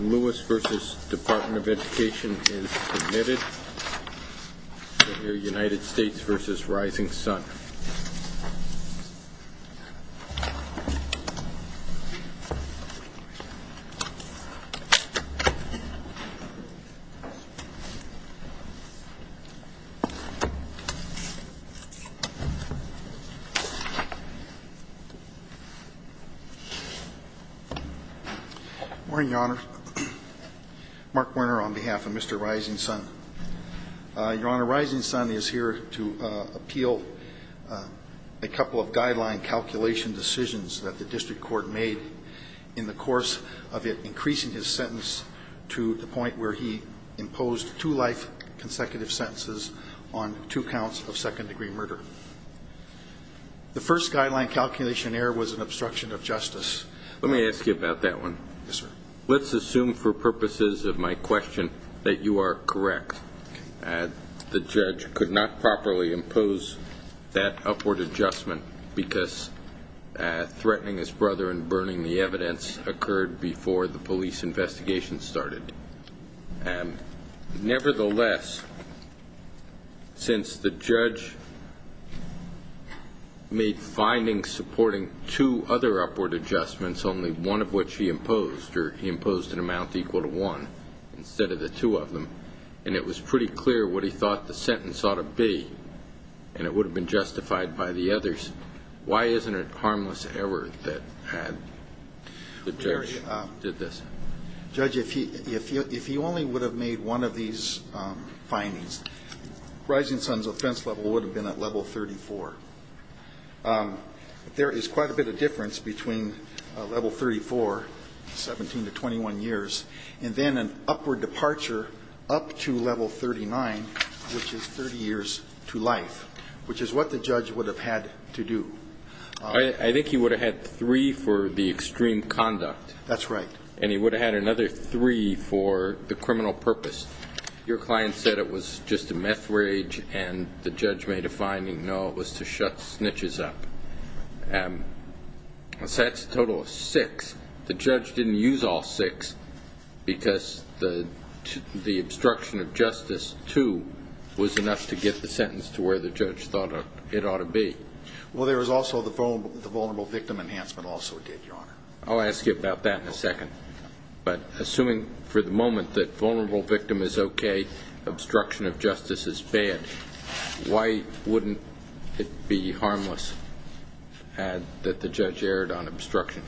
Lewis v. Department of Education is admitted to the United States v. Rising Sun Morning, Your Honor. Mark Werner on behalf of Mr. Rising Sun. Your Honor, Rising Sun is here to appeal a couple of guideline calculation decisions that the district court made in the course of it increasing his sentence to the point where he imposed two life consecutive sentences on two counts of second degree murder. The first guideline calculation error was an obstruction of justice. Let me ask you about that one. Yes, sir. Let's assume for purposes of my question that you are correct. The judge could not properly impose that upward adjustment because threatening his brother and burning the evidence occurred before the police investigation started. Nevertheless, since the judge made findings supporting two other upward adjustments, only one of which he imposed, or he imposed an amount equal to one instead of the two of them, and it was pretty clear what he thought the sentence ought to be and it would have been justified by the others, why isn't it harmless error that the judge did this? Judge, if he only would have made one of these findings, Rising Sun's offense level would have been at level 34. There is quite a bit of difference between level 34, 17 to 21 years, and then an upward departure up to level 39, which is 30 years to life, which is what the judge would have had to do. I think he would have had three for the extreme conduct. That's right. And he would have had another three for the criminal purpose. Your client said it was just a meth rage, and the judge made a finding, no, it was to shut snitches up. And that's a total of six. The judge didn't use all six because the obstruction of justice, too, was enough to get the sentence to where the judge thought it ought to be. Well, there was also the vulnerable victim enhancement also did, Your Honor. I'll ask you about that in a second, but assuming for the moment that vulnerable victim is okay, obstruction of justice is bad, why wouldn't it be harmless that the judge erred on obstruction?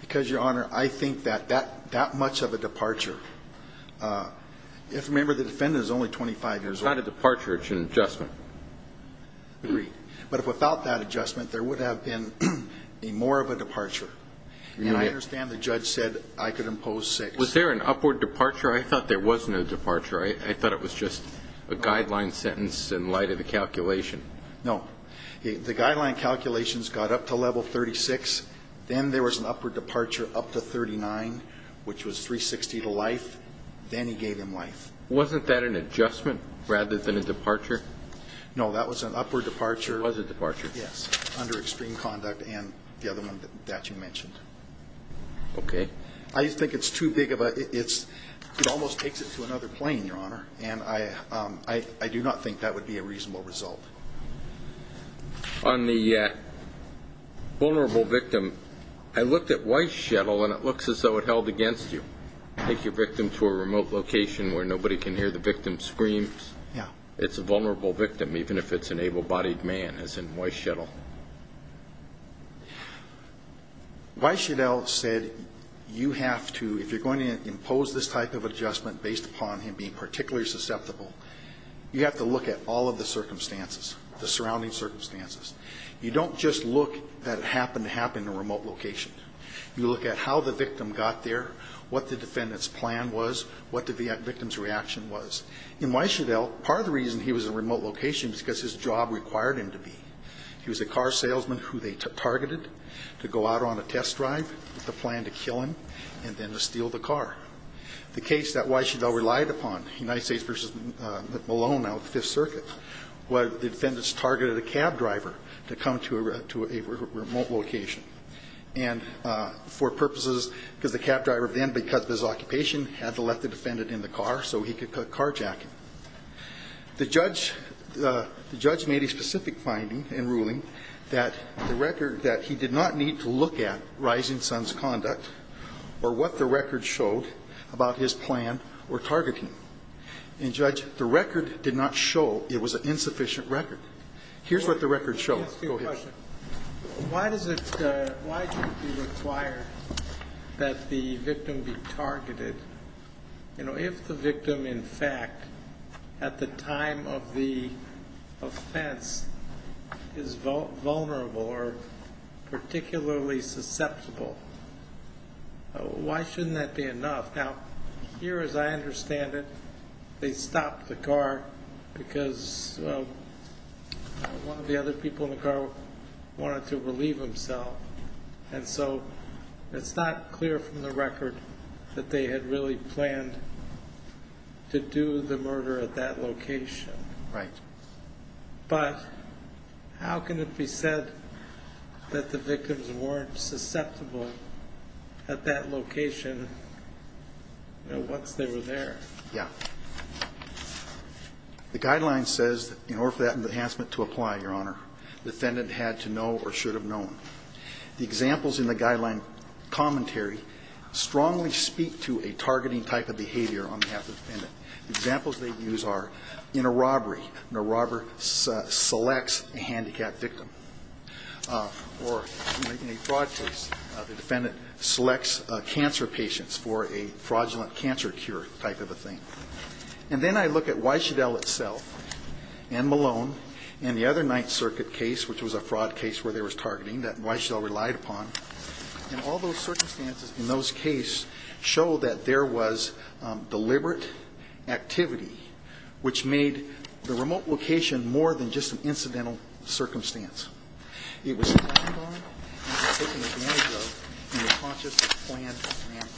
Because, Your Honor, I think that that much of a departure, if, remember, the defendant is only 25 years old. Without a departure, it's an adjustment. Agreed. But if without that adjustment, there would have been a more of a departure. And I understand the judge said I could impose six. Was there an upward departure? I thought there was no departure. I thought it was just a guideline sentence in light of the calculation. No. The guideline calculations got up to level 36. Then there was an upward departure up to 39, which was 360 to life. Then he gave him life. Wasn't that an adjustment rather than a departure? No, that was an upward departure. Was it departure? Yes, under extreme conduct and the other one that you mentioned. Okay. I just think it's too big of a, it almost takes it to another plane, Your Honor, and I do not think that would be a reasonable result. On the vulnerable victim, I looked at Weisschedel and it looks as though it held against you. Take your victim to a remote location where nobody can hear the victim's screams. Yeah. It's a vulnerable victim, even if it's an able-bodied man, as in Weisschedel. Weisschedel said you have to, if you're going to impose this type of adjustment based upon him being particularly susceptible, you have to look at all of the circumstances, the surrounding circumstances. You don't just look at what happened to happen in a remote location. You look at how the victim got there, what the defendant's plan was, what the victim's reaction was. In Weisschedel, part of the reason he was in a remote location was because his job required him to be. He was a car salesman who they targeted to go out on a test drive with a plan to kill him and then to steal the car. The case that Weisschedel relied upon, United States v. Malone out of Fifth Circuit, where the defendants targeted a cab driver to come to a remote location. And for purposes, because the cab driver then, because of his occupation, had to let the defendant in the car so he could carjack him. The judge made a specific finding in ruling that the record, that he did not need to look at Rising Sun's conduct or what the record showed about his plan or targeting. And Judge, the record did not show it was an insufficient record. Here's what the record showed. Let me ask you a question. Why does it, why do you require that the victim be targeted? You know, if the victim, in fact, at the time of the offense is vulnerable or particularly susceptible, why shouldn't that be enough? Now, here, as I understand it, they stopped the car because one of the other people in the car wanted to relieve himself. And so it's not clear from the record that they had really planned to do the murder at that location. Right. But how can it be said that the victims weren't susceptible at that location once they were there? Yeah. The guideline says, in order for that enhancement to apply, Your Honor, the defendant had to know or should have known. The examples in the guideline commentary strongly speak to a targeting type of behavior on behalf of the defendant. Examples they use are, in a robbery, the robber selects a handicapped victim. Or in a fraud case, the defendant selects cancer patients for a fraudulent cancer cure type of a thing. And then I look at Weishedell itself and Malone and the other Ninth Circuit case, which was a fraud case where there was targeting that Weishedell relied upon. And all those circumstances in those cases show that there was deliberate activity which made the remote location more than just an incidental circumstance. It was planned on and taken advantage of in a conscious, planned manner.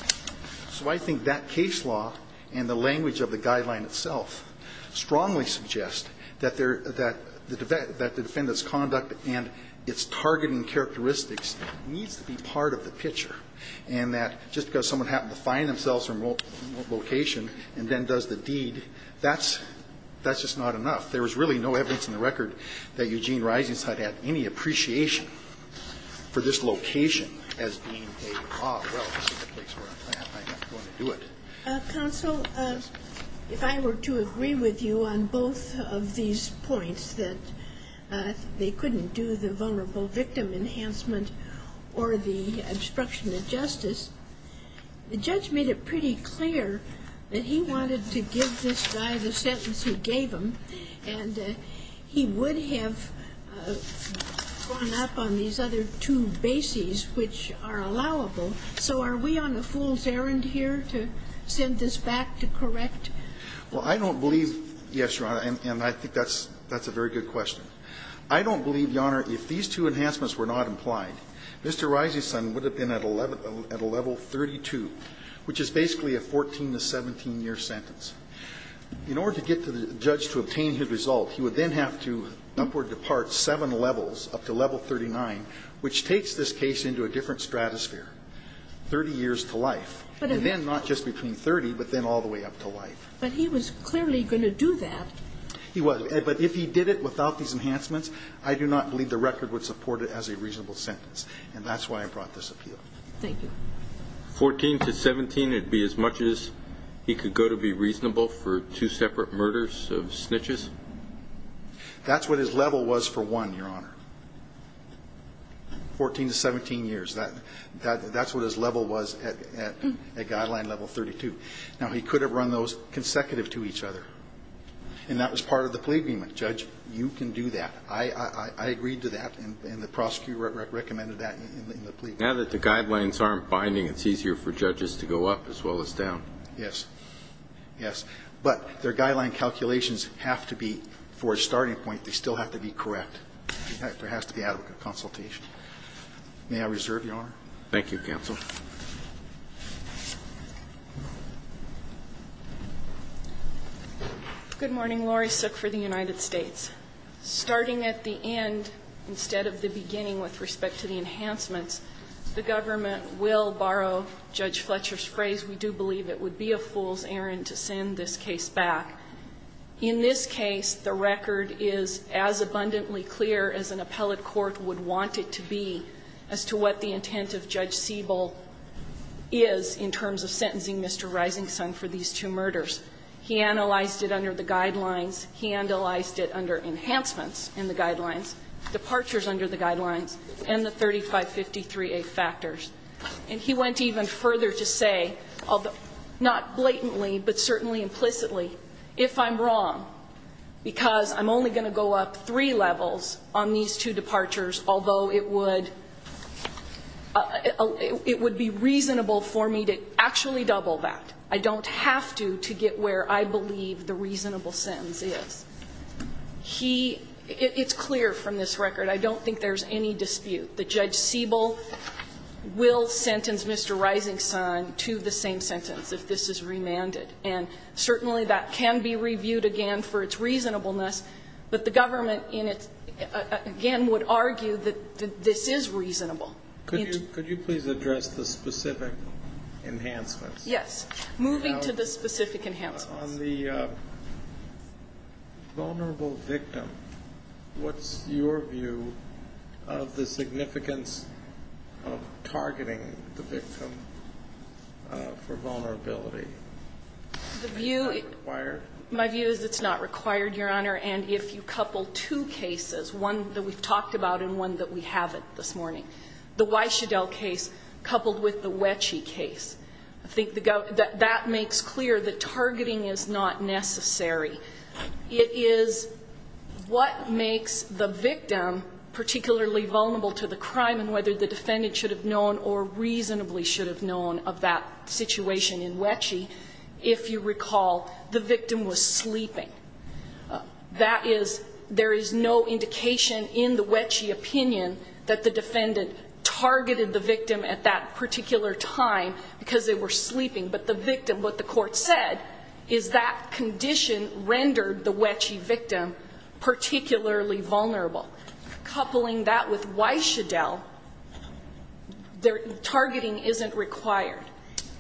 So I think that case law and the language of the guideline itself strongly suggest that the defendant's conduct and its targeting characteristics needs to be part of the picture. And that just because someone happened to find themselves in a remote location and then does the deed, that's just not enough. There was really no evidence in the record that Eugene Risingstead had any appreciation for this location as being a law. Well, this is the place where I'm going to do it. Counsel, if I were to agree with you on both of these points, that they couldn't do the vulnerable victim enhancement or the obstruction of justice, the judge made it pretty clear that he wanted to give this guy the sentence he gave him, and he would have gone up on these other two bases which are allowable. So are we on a fool's errand here to send this back to correct? Well, I don't believe, yes, Your Honor, and I think that's a very good question. I don't believe, Your Honor, if these two enhancements were not implied, Mr. Risingstead would have been at a level 32, which is basically a 14 to 17-year sentence. In order to get the judge to obtain his result, he would then have to upward depart up to level 39, which takes this case into a different stratosphere, 30 years to life, and then not just between 30, but then all the way up to life. But he was clearly going to do that. He was. But if he did it without these enhancements, I do not believe the record would support it as a reasonable sentence. And that's why I brought this appeal. Thank you. 14 to 17, it would be as much as he could go to be reasonable for two separate murders of snitches? That's what his level was for one, Your Honor, 14 to 17 years. That's what his level was at guideline level 32. Now, he could have run those consecutive to each other, and that was part of the plea agreement. Judge, you can do that. I agreed to that, and the prosecutor recommended that in the plea agreement. Now that the guidelines aren't binding, it's easier for judges to go up as well as down. Yes, yes. But their guideline calculations have to be, for a starting point, they still have to be correct. There has to be adequate consultation. May I reserve, Your Honor? Thank you, counsel. Good morning. Laurie Suk for the United States. Starting at the end instead of the beginning with respect to the enhancements, the government will borrow Judge Fletcher's phrase, we do believe it would be a fool's errand to send this case back. In this case, the record is as abundantly clear as an appellate court would want it to be as to what the intent of Judge Siebel is in terms of sentencing Mr. Risingston for these two murders. He analyzed it under the guidelines. He analyzed it under enhancements in the guidelines, departures under the guidelines, and the 3553A factors. And he went even further to say, not blatantly, but certainly implicitly, if I'm wrong, because I'm only going to go up three levels on these two departures, although it would be reasonable for me to actually double that. I don't have to to get where I believe the reasonable sentence is. He, it's clear from this record, I don't think there's any dispute that Judge Siebel will sentence Mr. Risingston to the same sentence if this is remanded. And certainly that can be reviewed again for its reasonableness, but the government in its, again, would argue that this is reasonable. Could you please address the specific enhancements? Yes. Moving to the specific enhancements. On the vulnerable victim, what's your view of the significance of targeting the victim for vulnerability? Is that required? My view is it's not required, Your Honor. And if you couple two cases, one that we've talked about and one that we haven't this morning, the Weischedel case coupled with the Wetsche case, I think that makes clear that targeting is not necessary. It is what makes the victim particularly vulnerable to the crime and whether the defendant should have known or reasonably should have known of that situation in Wetsche if you recall the victim was sleeping. That is, there is no indication in the Wetsche opinion that the defendant targeted the victim at that particular time because they were sleeping. But the victim, what the court said, is that condition rendered the Wetsche victim particularly vulnerable. Coupling that with Weischedel, targeting isn't required.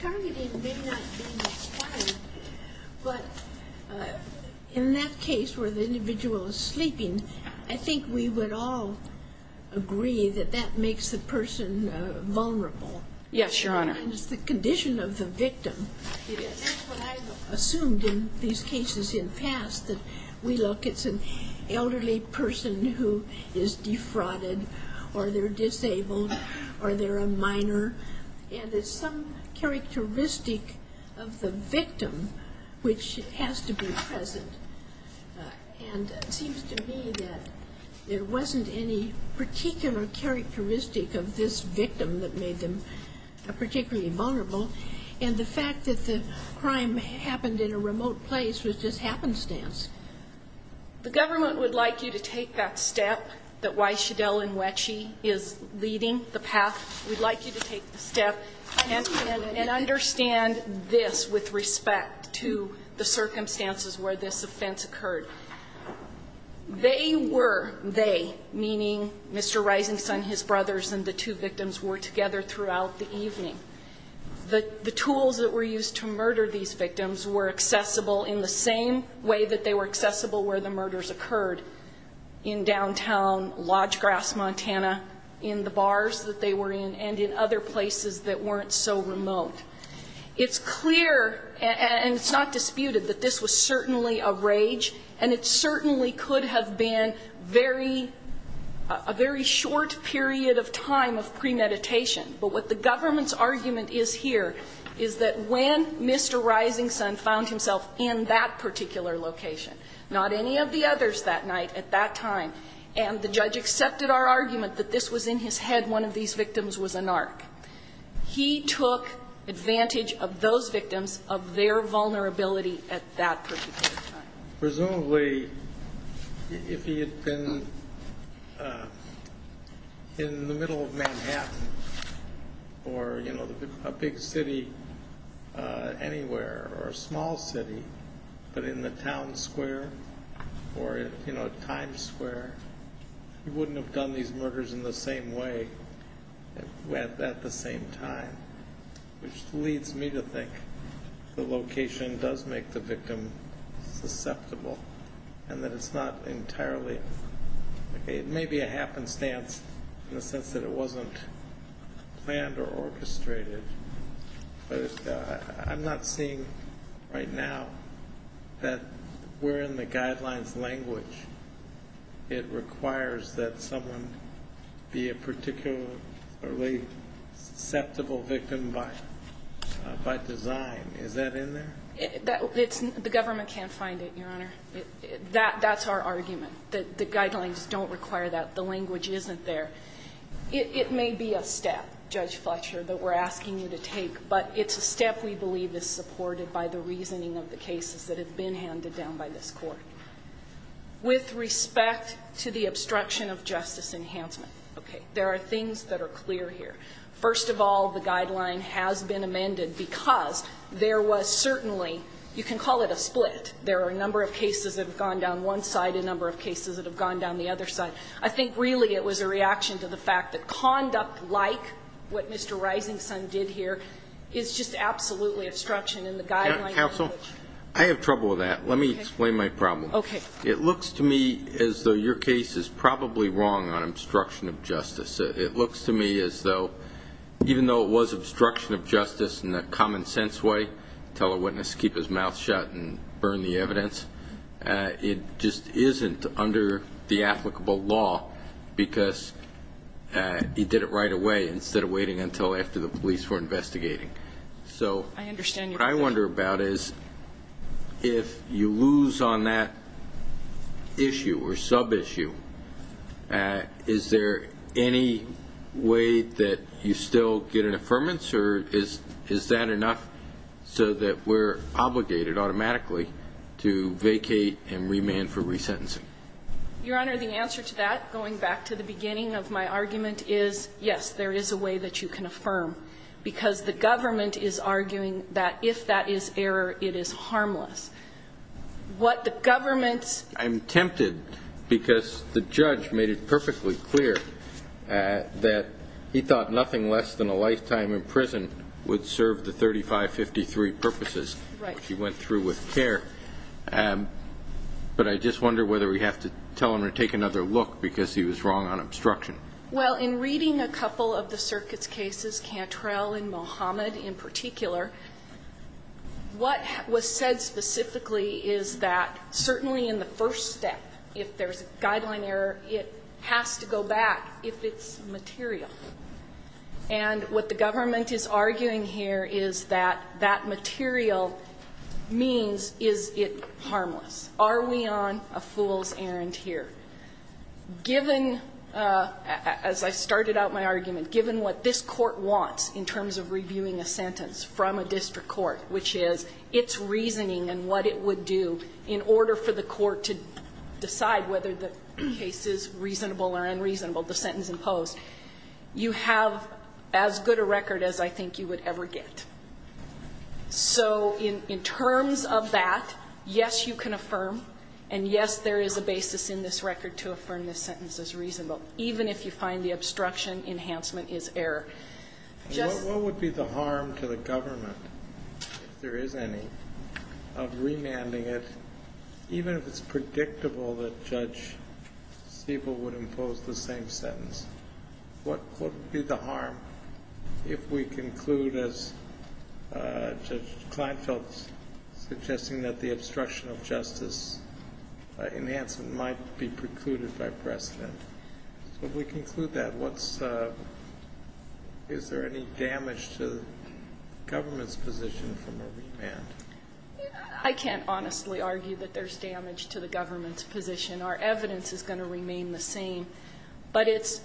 Targeting may not be required, but in that case where the individual is sleeping, I think we would all agree that that makes the person vulnerable. Yes, Your Honor. It's the condition of the victim. That's what I've assumed in these cases in the past, that we look, it's an elderly person who is defrauded or they're disabled or they're a minor. And there's some characteristic of the victim which has to be present. And it seems to me that there wasn't any particular characteristic of this victim that made them particularly vulnerable. And the fact that the crime happened in a remote place was just happenstance. The government would like you to take that step that Weischedel and Wetsche is leading, the path, we'd like you to take the step and understand this with respect to the circumstances where this offense occurred. They were they, meaning Mr. Rising Sun, his brothers, and the two victims were together throughout the evening. The tools that were used to murder these victims were accessible in the same way that they were accessible where the murders occurred, in downtown Lodgegrass, Montana, in the bars that they were in, and in other places that weren't so remote. It's clear, and it's not disputed, that this was certainly a rage, and it certainly could have been very, a very short period of time of premeditation. But what the government's argument is here is that when Mr. Rising Sun found himself in that particular location, not any of the others that night at that time, and the judge accepted our argument that this was in his head, one of these victims was a narc, he took advantage of those victims, of their vulnerability at that particular time. Presumably, if he had been in the middle of Manhattan or, you know, a big city anywhere or a small city, but in the town square or, you know, Times Square, he wouldn't have done these murders in the same way at the same time, which leads me to think the location does make the victim susceptible and that it's not entirely, it may be a happenstance in the sense that it wasn't planned or orchestrated. But I'm not seeing right now that we're in the guidelines language. It requires that someone be a particularly susceptible victim by design. Is that in there? The government can't find it, Your Honor. That's our argument, that the guidelines don't require that. The language isn't there. It may be a step, Judge Fletcher, that we're asking you to take, but it's a step we believe is supported by the reasoning of the cases that have been handed down by this Court. With respect to the obstruction of justice enhancement, okay, there are things that are clear here. First of all, the guideline has been amended because there was certainly, you can call it a split, there are a number of cases that have gone down one side, a number of cases that have gone down the other side. I think, really, it was a reaction to the fact that conduct like what Mr. Rising Sun did here is just absolutely obstruction in the guidelines language. Counsel, I have trouble with that. Let me explain my problem. Okay. It looks to me as though your case is probably wrong on obstruction of justice. It looks to me as though, even though it was obstruction of justice in a common sense way, tell a witness to keep his mouth shut and burn the evidence, it just isn't under the applicable law, because he did it right away instead of waiting until after the police were investigating. So what I wonder about is if you lose on that issue or sub-issue, is there any way that you still get an affirmance, or is that enough so that we're obligated automatically to vacate and remand for resentencing? Your Honor, the answer to that, going back to the beginning of my argument, is yes, there is a way that you can affirm, because the government is arguing that if that is error, it is harmless. What the government's ---- I'm tempted because the judge made it perfectly clear that he thought nothing less than a lifetime in prison would serve the 3553 purposes which he went through with care. But I just wonder whether we have to tell him to take another look because he was wrong on obstruction. Well, in reading a couple of the circuit's cases, Cantrell and Mohamed in particular, what was said specifically is that certainly in the first step, if there's a guideline error, it has to go back if it's material. And what the government is arguing here is that that material means is it harmless. Are we on a fool's errand here? Given, as I started out my argument, given what this Court wants in terms of reviewing a sentence from a district court, which is its reasoning and what it would do in order for the court to decide whether the case is reasonable or unreasonable, the sentence imposed, you have as good a record as I think you would ever get. So in terms of that, yes, you can affirm, and yes, there is a basis in this record to affirm this sentence as reasonable, even if you find the obstruction enhancement is error. Just ---- What would be the harm to the government, if there is any, of remanding it, even if it's predictable that Judge Stiebel would impose the same sentence? What would be the harm if we conclude, as Judge Kleinfeld is suggesting, that the obstruction of justice enhancement might be precluded by precedent? So if we conclude that, what's the ---- is there any damage to the government's position from a remand? I can't honestly argue that there's damage to the government's position. Our evidence is going to remain the same. But it's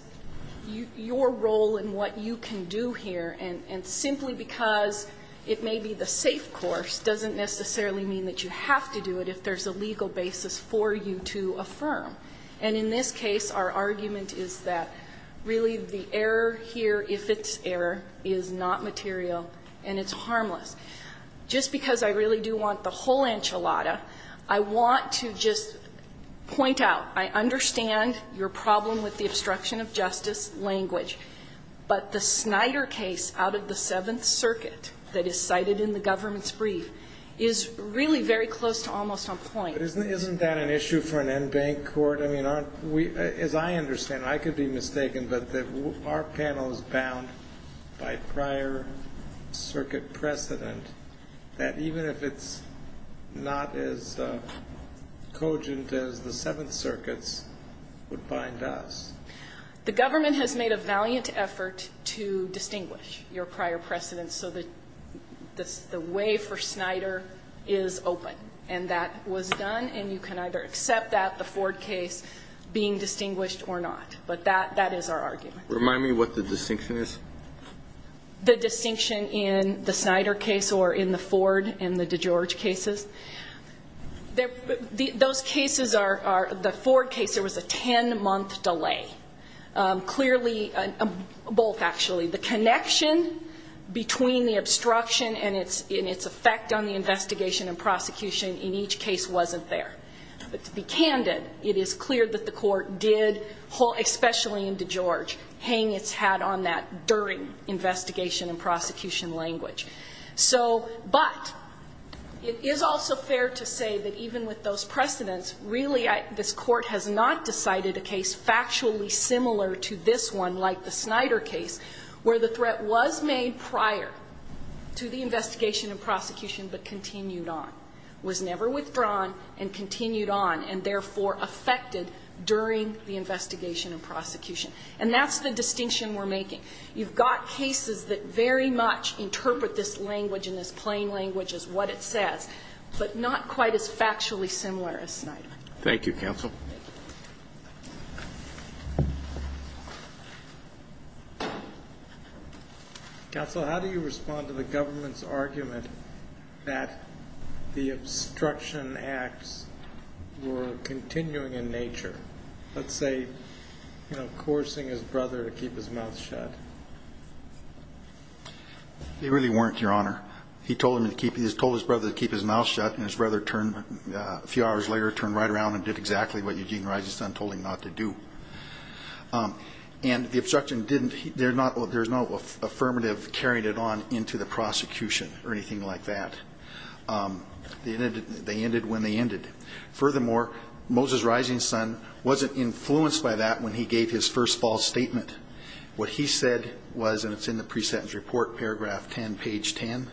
your role and what you can do here. And simply because it may be the safe course doesn't necessarily mean that you have to do it if there's a legal basis for you to affirm. And in this case, our argument is that really the error here, if it's error, is not material and it's harmless. Just because I really do want the whole enchilada, I want to just point out, I understand your problem with the obstruction of justice language. But the Snyder case out of the Seventh Circuit that is cited in the government's brief is really very close to almost on point. But isn't that an issue for an en banc court? I mean, aren't we ---- as I understand, I could be mistaken, but our panel is bound by prior circuit precedent that even if it's not as cogent as the Seventh Circuits would bind us. The government has made a valiant effort to distinguish your prior precedent so that the way for Snyder is open. And that was done, and you can either accept that, the Ford case, being distinguished or not. But that is our argument. Remind me what the distinction is. The distinction in the Snyder case or in the Ford and the DeGeorge cases. Those cases are, the Ford case, there was a ten-month delay. Clearly, both actually. The connection between the obstruction and its effect on the investigation and prosecution in each case wasn't there. But to be candid, it is clear that the court did, especially in DeGeorge, hang its hat on that during investigation and prosecution language. So, but it is also fair to say that even with those precedents, really this court has not decided a case factually similar to this one, like the Snyder case, where the threat was made prior to the investigation and prosecution but continued on. Was never withdrawn and continued on and, therefore, affected during the investigation and prosecution. And that's the distinction we're making. You've got cases that very much interpret this language and this plain language as what it says, but not quite as factually similar as Snyder. Thank you, counsel. Thank you. Counsel, how do you respond to the government's argument that the obstruction acts were continuing in nature? Let's say, you know, coursing his brother to keep his mouth shut. They really weren't, Your Honor. He told his brother to keep his mouth shut, and his brother turned, a few hours later, turned right around and did exactly what Eugene Roberts and the Rising Sun told him not to do. And the obstruction didn't, there's no affirmative carrying it on into the prosecution or anything like that. They ended when they ended. Furthermore, Moses Rising Sun wasn't influenced by that when he gave his first false statement. What he said was, and it's in the pre-sentence report, paragraph 10, page 10,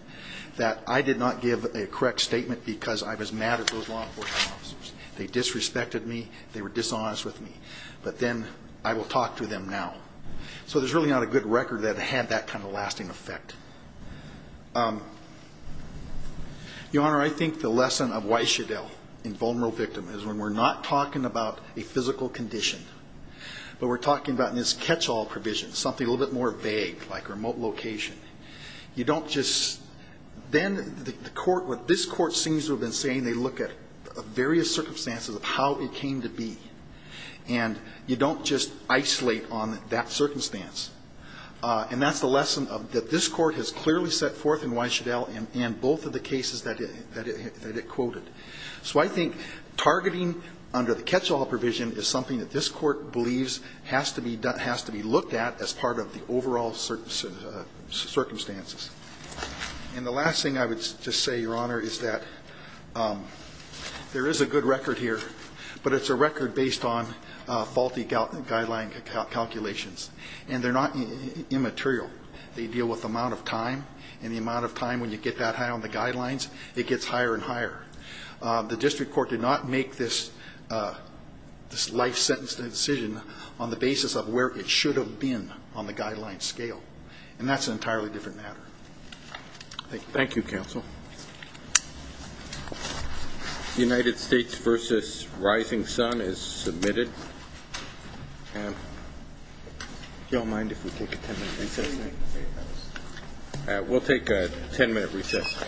that I did not give a correct statement because I was mad at those law enforcement officers. They disrespected me. They were dishonest with me. But then, I will talk to them now. So there's really not a good record that had that kind of lasting effect. Your Honor, I think the lesson of Weishadell in Vulnerable Victim is when we're not talking about a physical condition, but we're talking about this catch-all provision, something a little bit more vague, like remote location. You don't just, then the court, what this court seems to have been saying, they look at various circumstances of how it came to be. And you don't just isolate on that circumstance. And that's the lesson that this court has clearly set forth in Weishadell and both of the cases that it quoted. So I think targeting under the catch-all provision is something that this court believes has to be done, has to be looked at as part of the overall circumstances. And the last thing I would just say, Your Honor, is that there is a good record here, but it's a record based on faulty guideline calculations. And they're not immaterial. They deal with the amount of time, and the amount of time when you get that high on the guidelines, it gets higher and higher. The district court did not make this life sentence decision on the basis of where it should have been on the guideline scale. And that's an entirely different matter. Thank you, counsel. United States v. Rising Sun is submitted. Do you all mind if we take a ten-minute recess? We'll take a ten-minute recess.